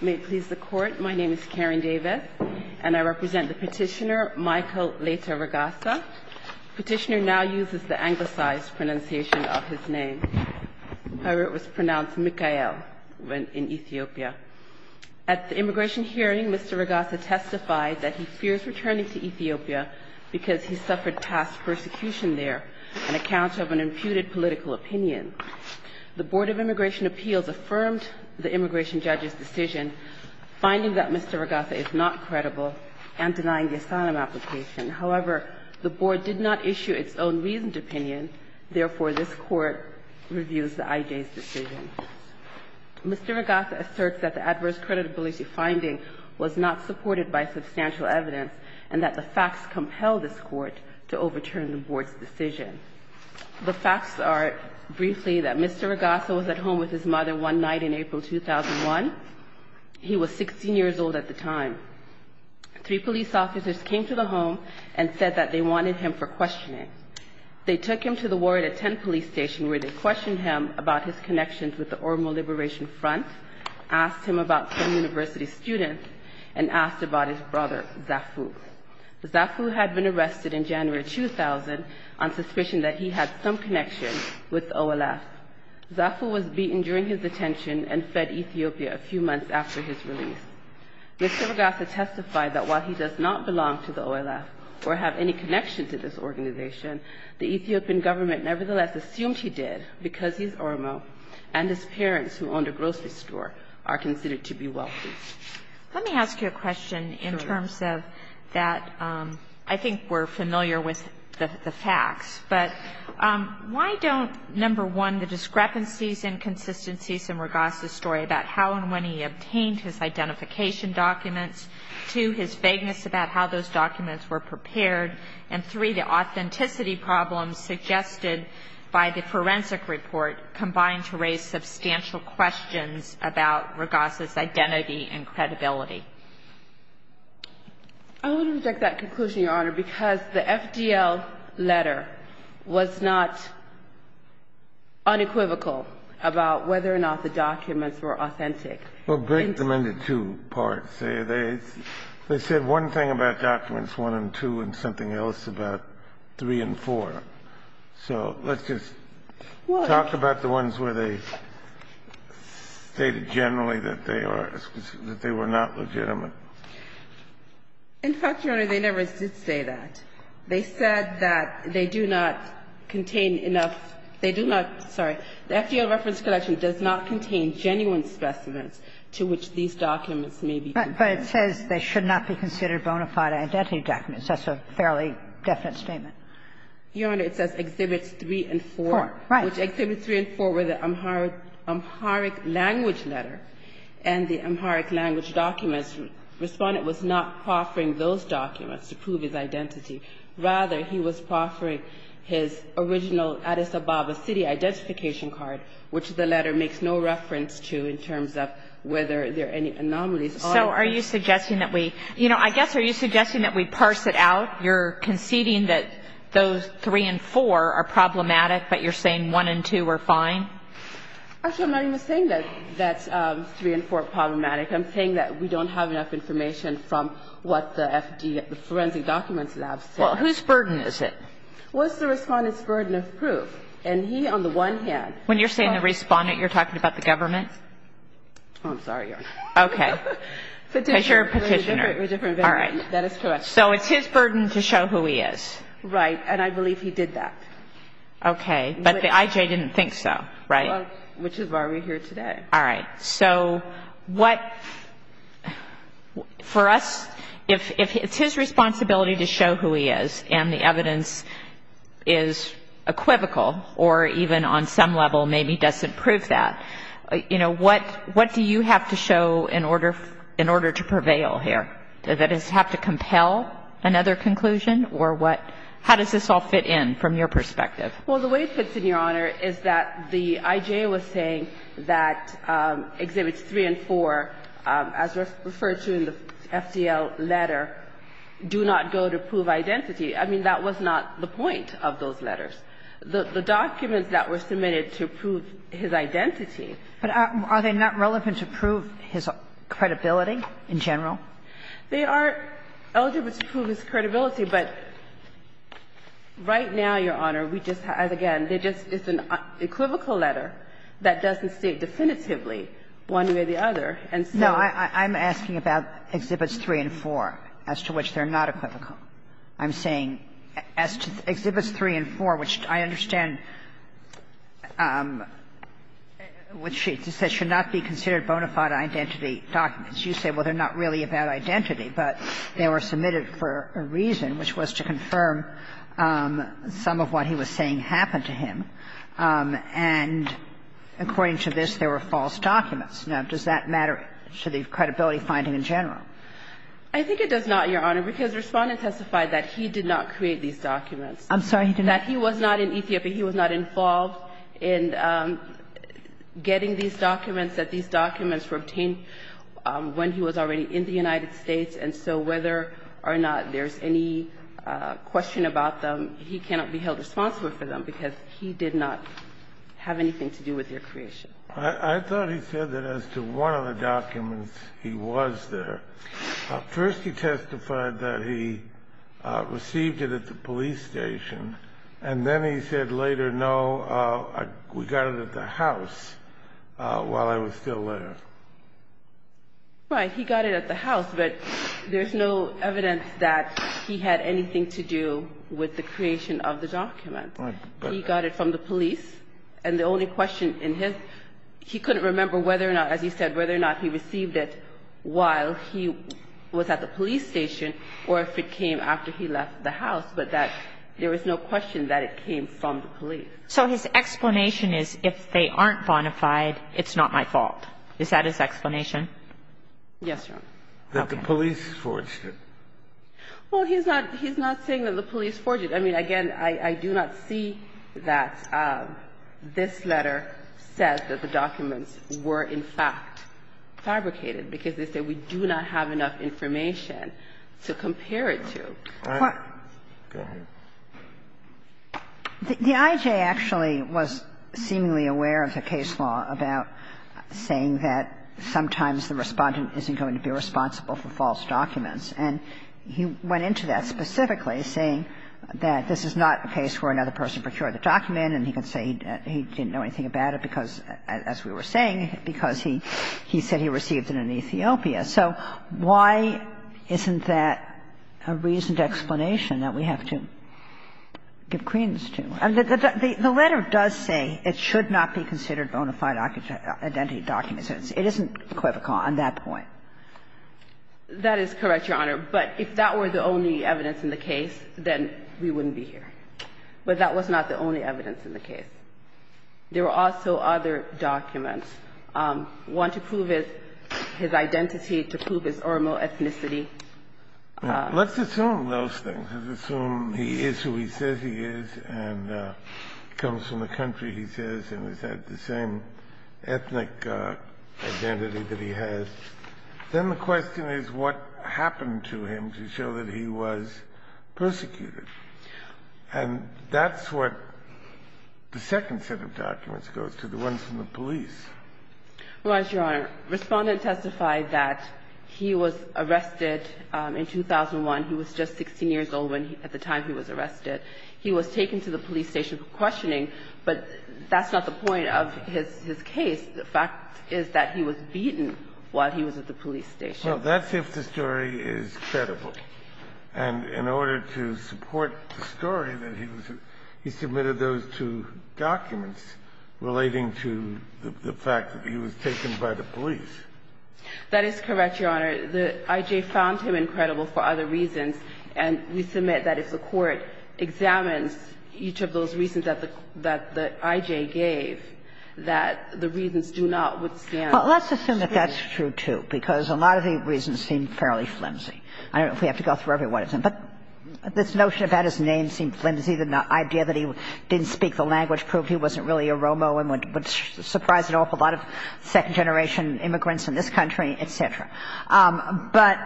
May it please the court, my name is Karen Davis, and I represent the petitioner, Michael Leita Regassa. Petitioner now uses the anglicized pronunciation of his name. However, it was pronounced Mikael in Ethiopia. At the immigration hearing, Mr. Regassa testified that he fears returning to Ethiopia because he suffered past persecution there and accounts of an imputed political opinion. The Board of Immigration Appeals affirmed the immigration judge's decision, finding that Mr. Regassa is not credible, and denying the asylum application. However, the Board did not issue its own reasoned opinion. Therefore, this Court reviews the IJ's decision. Mr. Regassa asserts that the adverse credibility finding was not supported by substantial evidence, and that the facts compel this Court to overturn the Board's decision. The facts are, briefly, that Mr. Regassa was at home with his mother one night in April 2001. He was 16 years old at the time. Three police officers came to the home and said that they wanted him for questioning. They took him to the Warrietta 10 police station, where they questioned him about his connections with the Oromo Liberation Front, asked him about some university students, and asked about his brother, Zafu. Zafu had been arrested in January 2000 on suspicion that he had some connection with OLF. Zafu was beaten during his detention and fed Ethiopia a few months after his release. Mr. Regassa testified that while he does not belong to the OLF or have any connection to this organization, the Ethiopian government nevertheless assumed he did because he's Oromo, and his parents, who owned a grocery store, are considered to be wealthy. Let me ask you a question in terms of that. I think we're familiar with the facts. But why don't, number one, the discrepancies, inconsistencies in Regassa's story about how and when he obtained his identification documents, two, his vagueness about how those documents were prepared, and, three, the authenticity problems suggested by the forensic report combined to raise substantial questions about Regassa's identity and credibility? I would reject that conclusion, Your Honor, because the FDL letter was not unequivocal about whether or not the documents were authentic. Well, break them into two parts. They said one thing about documents, one and two, and something else about three and four. So let's just talk about the ones where they stated generally that they are not legitimate. The FDL reference collection does not contain genuine specimens to which these documents may be compared. But it says they should not be considered bona fide identity documents. That's a fairly definite statement. Your Honor, it says Exhibits 3 and 4, which Exhibits 3 and 4 were the Amharic language letter, and the Amharic language documents were the Amharic language documents. And the FDL reference collection, the FDL reference collection, was not offering those documents to prove his identity. Rather, he was offering his original Addis Ababa City identification card, which the letter makes no reference to in terms of whether there are any anomalies on it. So are you suggesting that we – you know, I guess are you suggesting that we parse it out? You're conceding that those three and four are problematic, but you're saying one and two are fine? Actually, I'm not even saying that three and four are problematic. I'm saying that we don't have enough information from what the FD – the forensic documents lab says. Well, whose burden is it? Well, it's the Respondent's burden of proof. And he, on the one hand – When you're saying the Respondent, you're talking about the government? Oh, I'm sorry, Your Honor. Okay. Petitioner. Because you're a petitioner. A different veteran. All right. That is correct. So it's his burden to show who he is. Right. And I believe he did that. Okay. But the IJ didn't think so, right? Well, which is why we're here today. All right. So what – for us, if it's his responsibility to show who he is and the evidence is equivocal or even on some level maybe doesn't prove that, you know, what do you have to show in order – in order to prevail here? Does it have to compel another conclusion or what – how does this all fit in from your perspective? Well, the way it fits in, Your Honor, is that the IJ was saying that Exhibits 3 and 4, as referred to in the FDL letter, do not go to prove identity. I mean, that was not the point of those letters. The documents that were submitted to prove his identity – But are they not relevant to prove his credibility in general? They are eligible to prove his credibility. But right now, Your Honor, we just have – again, they just – it's an equivocal letter that doesn't state definitively one way or the other, and so – No. I'm asking about Exhibits 3 and 4, as to which they're not equivocal. I'm saying – as to Exhibits 3 and 4, which I understand – which it says should not be considered bona fide identity documents. You say, well, they're not really about identity, but they were submitted for a reason, which was to confirm some of what he was saying happened to him. And according to this, there were false documents. I think it does not, Your Honor, because Respondent testified that he did not create these documents. I'm sorry, he did not. That he was not in Ethiopia. He was not involved in getting these documents, that these documents were obtained when he was already in the United States. And so whether or not there's any question about them, he cannot be held responsible for them, because he did not have anything to do with their creation. I thought he said that as to one of the documents, he was there. First he testified that he received it at the police station, and then he said later, no, we got it at the house while I was still there. Right. He got it at the house, but there's no evidence that he had anything to do with the creation of the document. Right. He got it from the police, and the only question in his he couldn't remember whether or not, as he said, whether or not he received it while he was at the police station or if it came after he left the house, but that there was no question that it came from the police. So his explanation is if they aren't bona fide, it's not my fault. Is that his explanation? Yes, Your Honor. That the police forged it. Well, he's not saying that the police forged it. I mean, again, I do not see that this letter says that the documents were in fact fabricated, because they say we do not have enough information to compare it to. All right. Go ahead. The IJ actually was seemingly aware of the case law about saying that sometimes the Respondent isn't going to be responsible for false documents. And he went into that specifically saying that this is not a case where another person procured the document, and he could say he didn't know anything about it because, as we were saying, because he said he received it in Ethiopia. So why isn't that a reasoned explanation that we have to give credence to? The letter does say it should not be considered bona fide identity documents. It isn't equivocal on that point. That is correct, Your Honor. But if that were the only evidence in the case, then we wouldn't be here. But that was not the only evidence in the case. There were also other documents. One to prove his identity, to prove his ormal ethnicity. Let's assume those things. Let's assume he is who he says he is and comes from the country he says and has had the same ethnic identity that he has. Then the question is what happened to him to show that he was persecuted. And that's what the second set of documents goes to, the ones from the police. Well, Your Honor, Respondent testified that he was arrested in 2001. He was just 16 years old at the time he was arrested. He was taken to the police station for questioning. But that's not the point of his case. The fact is that he was beaten while he was at the police station. Well, that's if the story is credible. And in order to support the story that he was at, he submitted those two documents relating to the fact that he was taken by the police. That is correct, Your Honor. The I.J. found him incredible for other reasons. And we submit that if the Court examines each of those reasons that the I.J. gave, that the reasons do not withstand. Well, let's assume that that's true, too, because a lot of the reasons seem fairly flimsy. I don't know if we have to go through every one of them. But this notion about his name seemed flimsy, the idea that he didn't speak the language proved he wasn't really a Romo and would surprise an awful lot of second-generation immigrants in this country, et cetera. But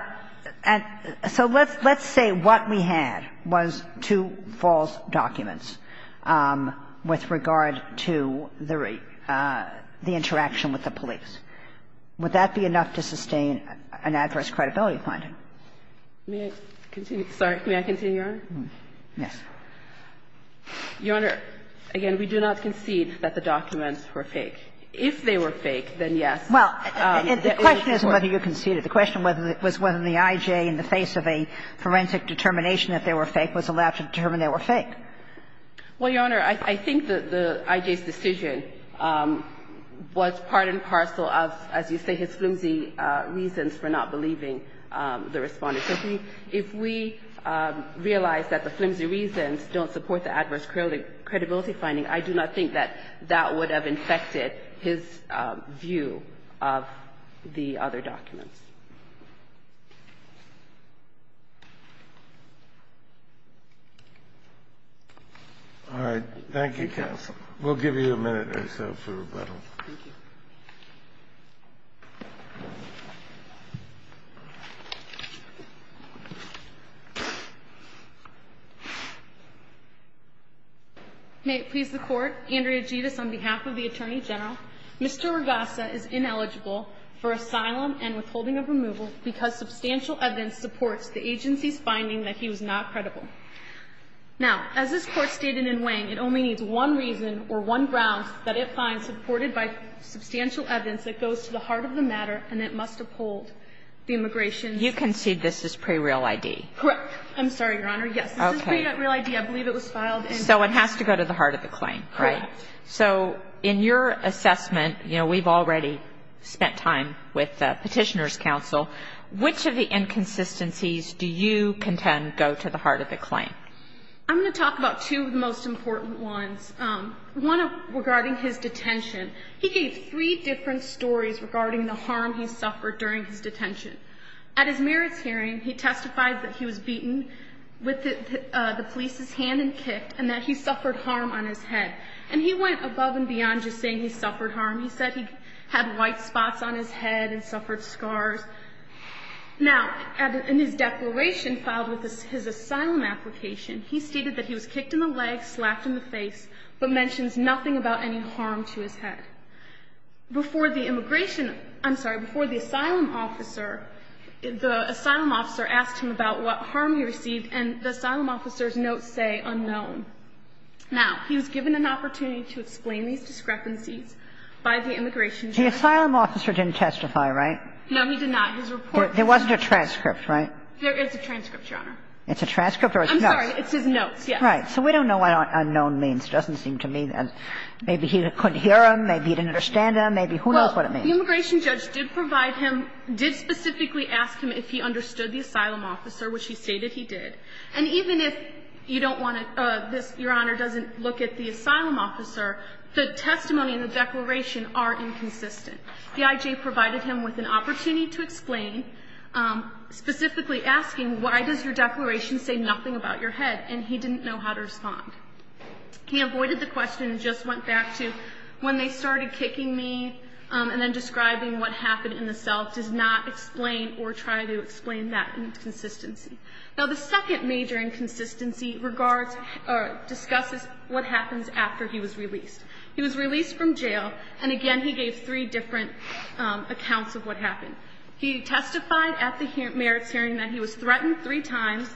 so let's say what we had was two false documents with regard to the interaction with the police. Would that be enough to sustain an adverse credibility finding? May I continue? Sorry. May I continue, Your Honor? Yes. Your Honor, again, we do not concede that the documents were fake. If they were fake, then yes. Well, the question isn't whether you conceded. The question was whether the I.J. in the face of a forensic determination that they were fake was allowed to determine they were fake. Well, Your Honor, I think the I.J.'s decision was part and parcel of, as you say, his flimsy reasons for not believing the Respondent. If we realize that the flimsy reasons don't support the adverse credibility finding, I do not think that that would have infected his view of the other documents. All right. Thank you, counsel. We'll give you a minute or so for rebuttal. Thank you. May it please the Court, Andrea Geddes, on behalf of the Attorney General, Mr. Ragassa is ineligible for asylum and withholding of removal because substantial evidence supports the agency's finding that he was not credible. Now, as this Court stated in Wang, it only needs one reason or one grounds that it finds supported by substantial evidence. The first reason is that it finds supported by substantial evidence that goes to the heart of the matter and it must uphold the immigration's ---- You concede this is pre-real ID. Correct. I'm sorry, Your Honor. Yes. Okay. This is pre-real ID. I believe it was filed in ---- So it has to go to the heart of the claim. Correct. Right? So in your assessment, you know, we've already spent time with Petitioner's counsel. Which of the inconsistencies do you contend go to the heart of the claim? I'm going to talk about two of the most important ones. One regarding his detention. He gave three different stories regarding the harm he suffered during his detention. At his merits hearing, he testified that he was beaten with the police's hand and kicked and that he suffered harm on his head. And he went above and beyond just saying he suffered harm. He said he had white spots on his head and suffered scars. Now, in his declaration filed with his asylum application, he stated that he was kicked in the leg, slapped in the face, but mentions nothing about any harm to his head. Before the immigration ---- I'm sorry. Before the asylum officer, the asylum officer asked him about what harm he received and the asylum officer's notes say unknown. Now, he was given an opportunity to explain these discrepancies by the immigration judge. The asylum officer didn't testify, right? No, he did not. His report ---- There wasn't a transcript, right? There is a transcript, Your Honor. It's a transcript or it's notes? I'm sorry. It's his notes, yes. Right. So we don't know what unknown means. It doesn't seem to me that maybe he couldn't hear them, maybe he didn't understand them. Maybe who knows what it means. Well, the immigration judge did provide him, did specifically ask him if he understood the asylum officer, which he stated he did. And even if you don't want to ---- Your Honor, doesn't look at the asylum officer, the testimony and the declaration are inconsistent. The IJ provided him with an opportunity to explain, specifically asking why does your declaration say nothing about your head? And he didn't know how to respond. He avoided the question and just went back to when they started kicking me and then describing what happened in the cell, does not explain or try to explain that inconsistency. Now, the second major inconsistency regards or discusses what happens after he was released. He was released from jail, and again he gave three different accounts of what happened. He testified at the merits hearing that he was threatened three times,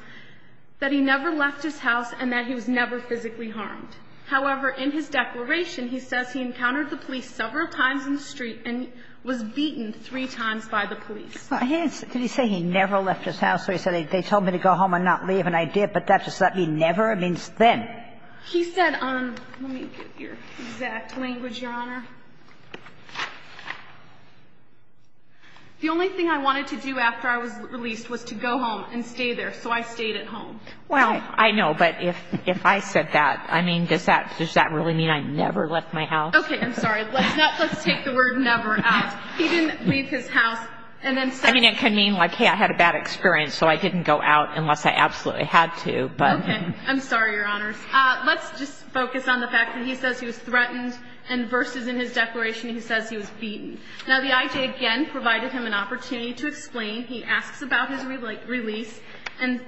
that he never left his house, and that he was never physically harmed. However, in his declaration, he says he encountered the police several times in the street and was beaten three times by the police. Did he say he never left his house or he said they told me to go home and not leave and I did, but that does not mean never. It means then. He said, let me get your exact language, Your Honor. The only thing I wanted to do after I was released was to go home and stay there, so I stayed at home. Well, I know, but if I said that, I mean, does that really mean I never left my house? Okay, I'm sorry. Let's take the word never out. He didn't leave his house and then said. I mean, it could mean like, hey, I had a bad experience, so I didn't go out unless I absolutely had to. Okay, I'm sorry, Your Honors. Let's just focus on the fact that he says he was threatened and versus in his declaration he says he was beaten. Now, the IJ again provided him an opportunity to explain. He asks about his release and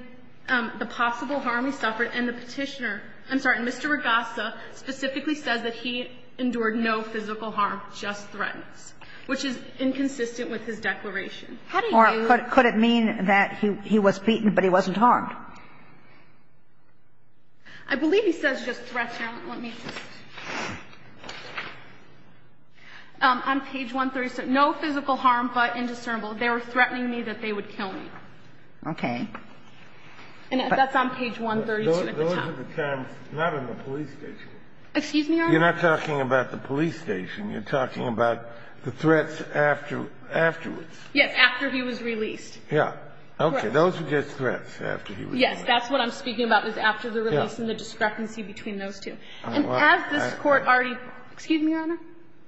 the possible harm he suffered. And the Petitioner, I'm sorry, Mr. Regassa specifically says that he endured no physical harm, just threats, which is inconsistent with his declaration. How do you. Or could it mean that he was beaten but he wasn't harmed? I believe he says just threats. Let me just. On page 137. No physical harm but indiscernible. They were threatening me that they would kill me. Okay. And that's on page 137 at the top. Those are the terms not on the police station. Excuse me, Your Honor. You're not talking about the police station. You're talking about the threats afterwards. Yes, after he was released. Yeah. Correct. Those were just threats after he was released. Yes, that's what I'm speaking about was after the release and the discrepancy between those two. And has this Court already. Excuse me, Your Honor.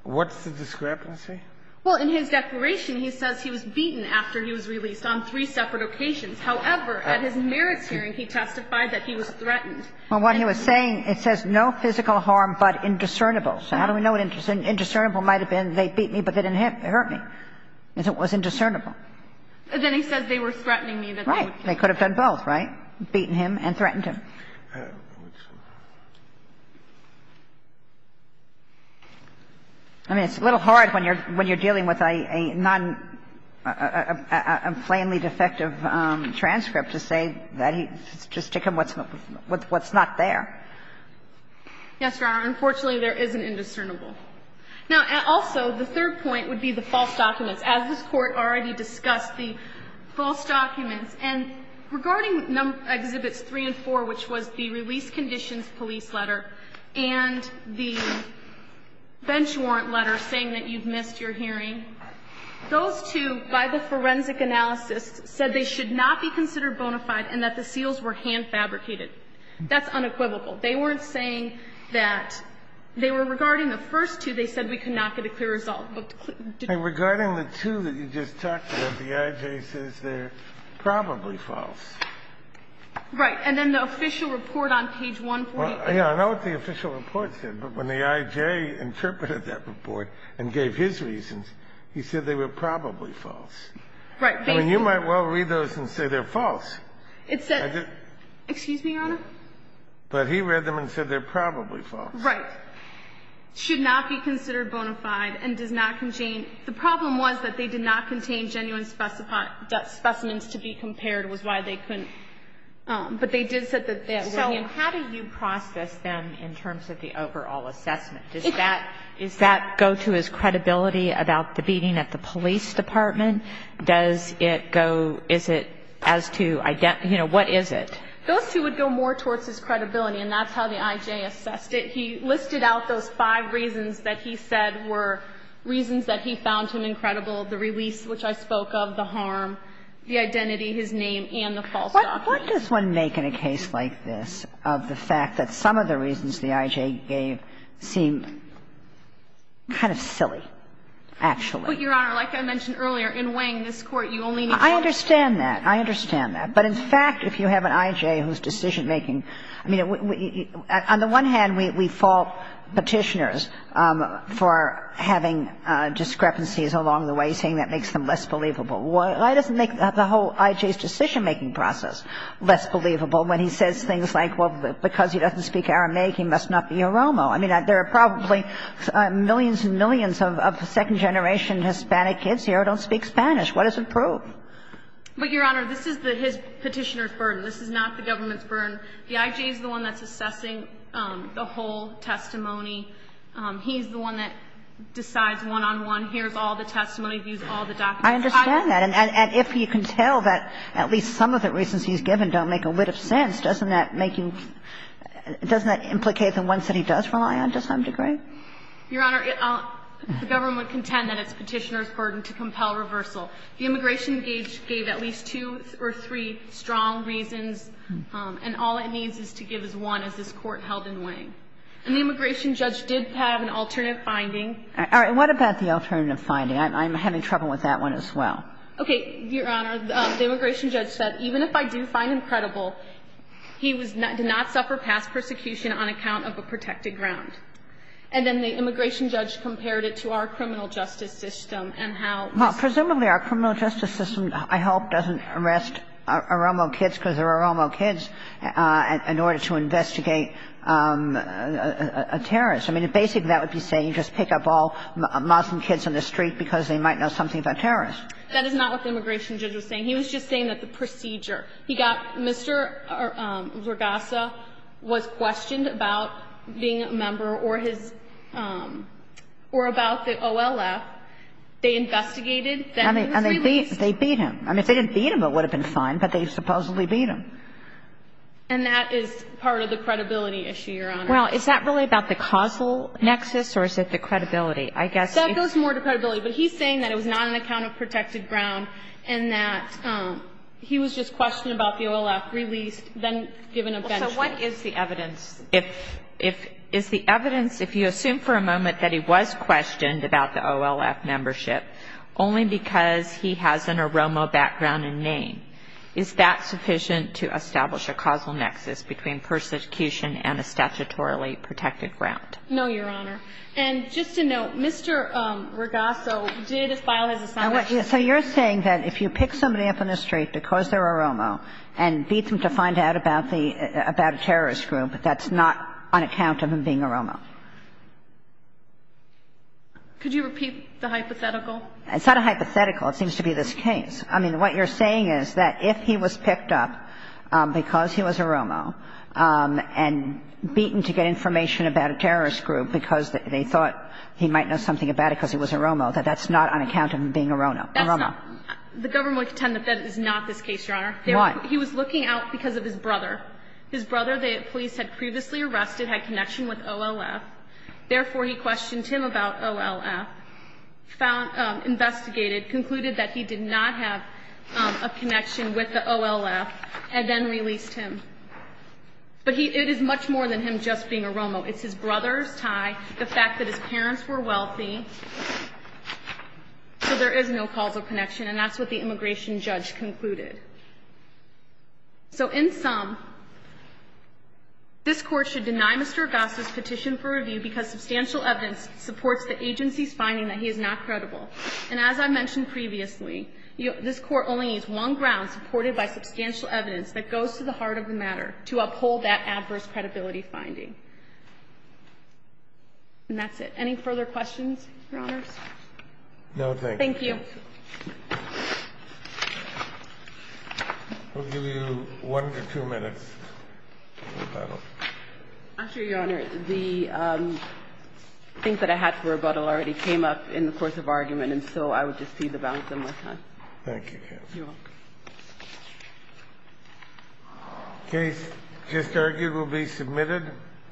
What's the discrepancy? Well, in his declaration, he says he was beaten after he was released on three separate occasions. However, at his merits hearing, he testified that he was threatened. Well, what he was saying, it says no physical harm but indiscernible. So how do we know what indiscernible might have been? They beat me, but they didn't hurt me. It was indiscernible. Then he says they were threatening me. Right. They could have done both, right? Beaten him and threatened him. I mean, it's a little hard when you're dealing with a non – a plainly defective transcript to say that he – just to come up with what's not there. Yes, Your Honor. Unfortunately, there is an indiscernible. Now, also, the third point would be the false documents. As this Court already discussed, the false documents. And regarding Exhibits 3 and 4, which was the release conditions police letter and the bench warrant letter saying that you've missed your hearing, those two, by the forensic analysis, said they should not be considered bona fide and that the seals were hand-fabricated. That's unequivocal. They weren't saying that – they were regarding the first two, they said we could not get a clear result. Regarding the two that you just talked about, the I.J. says they're probably false. Right. And then the official report on page 148. I know what the official report said, but when the I.J. interpreted that report and gave his reasons, he said they were probably false. Right. Basically. I mean, you might well read those and say they're false. It says – excuse me, Your Honor? But he read them and said they're probably false. Right. And then he said that the bench warrant letter should not be considered bona fide and does not contain – the problem was that they did not contain genuine specimens to be compared, was why they couldn't. But they did say that they were. So how do you process them in terms of the overall assessment? Does that go to his credibility about the beating at the police department? Does it go – is it as to, you know, what is it? Those two would go more towards his credibility, and that's how the I.J. assessed it. He listed out those five reasons that he said were reasons that he found him incredible, the release, which I spoke of, the harm, the identity, his name, and the false documents. What does one make in a case like this of the fact that some of the reasons the I.J. gave seem kind of silly, actually? But, Your Honor, like I mentioned earlier, in weighing this Court, you only need one. I understand that. I understand that. But in fact, if you have an I.J. whose decision-making – I mean, on the one hand, we fault Petitioners for having discrepancies along the way, saying that makes them less believable. Why does it make the whole I.J.'s decision-making process less believable when he says things like, well, because he doesn't speak Aramaic, he must not be a Romo? I mean, there are probably millions and millions of second-generation Hispanic kids here who don't speak Spanish. What does it prove? But, Your Honor, this is the – his Petitioner's burden. This is not the government's burden. The I.J. is the one that's assessing the whole testimony. He's the one that decides one-on-one, here's all the testimony, here's all the documents. I understand that. And if you can tell that at least some of the reasons he's given don't make a whit of sense, doesn't that make you – doesn't that implicate the ones that he does rely on to some degree? Your Honor, the government can tend that it's Petitioner's burden to compel reversal. The immigration gauge gave at least two or three strong reasons, and all it needs is to give us one, as this Court held in Wang. And the immigration judge did have an alternative finding. All right. What about the alternative finding? I'm having trouble with that one as well. Okay. Your Honor, the immigration judge said, even if I do find him credible, he was – did not suffer past persecution on account of a protected ground. And then the immigration judge compared it to our criminal justice system and how – Well, presumably our criminal justice system, I hope, doesn't arrest Oromo kids because they're Oromo kids in order to investigate a terrorist. I mean, basically that would be saying just pick up all Muslim kids in the street because they might know something about terrorists. That is not what the immigration judge was saying. He was just saying that the procedure. He got – Mr. Zorgassa was questioned about being a member or his – or about the And they beat him. I mean, if they didn't beat him, it would have been fine, but they supposedly beat him. And that is part of the credibility issue, Your Honor. Well, is that really about the causal nexus or is it the credibility? I guess it's – That goes more to credibility. But he's saying that it was not on account of protected ground and that he was just questioned about the OLF, released, then given a benchment. Well, so what is the evidence? If – is the evidence, if you assume for a moment that he was questioned about the OLF membership only because he has an OROMO background and name, is that sufficient to establish a causal nexus between persecution and a statutorily protected ground? No, Your Honor. And just to note, Mr. Zorgassa did file his assignment. So you're saying that if you pick somebody up in the street because they're OROMO and beat them to find out about the – about a terrorist group, that's not on account of him being OROMO? Could you repeat the hypothetical? It's not a hypothetical. It seems to be this case. I mean, what you're saying is that if he was picked up because he was OROMO and beaten to get information about a terrorist group because they thought he might know something about it because he was OROMO, that that's not on account of him being OROMO. That's not – the government would contend that that is not this case, Your Honor. Why? He was looking out because of his brother. His brother, the police had previously arrested, had connection with OLF. Therefore, he questioned him about OLF, investigated, concluded that he did not have a connection with the OLF, and then released him. But it is much more than him just being OROMO. It's his brother's tie, the fact that his parents were wealthy. So there is no causal connection, and that's what the immigration judge concluded. So in sum, this Court should deny Mr. Agosta's petition for review because substantial evidence supports the agency's finding that he is not credible. And as I mentioned previously, this Court only needs one ground supported by substantial evidence that goes to the heart of the matter to uphold that adverse credibility finding. And that's it. Any further questions, Your Honors? No, thank you. Thank you. We'll give you one or two minutes to rebuttal. I'm sure, Your Honor, the things that I had to rebuttal already came up in the course of argument, and so I would just feed the balance one more time. Thank you, counsel. You're welcome. The case just argued will be submitted.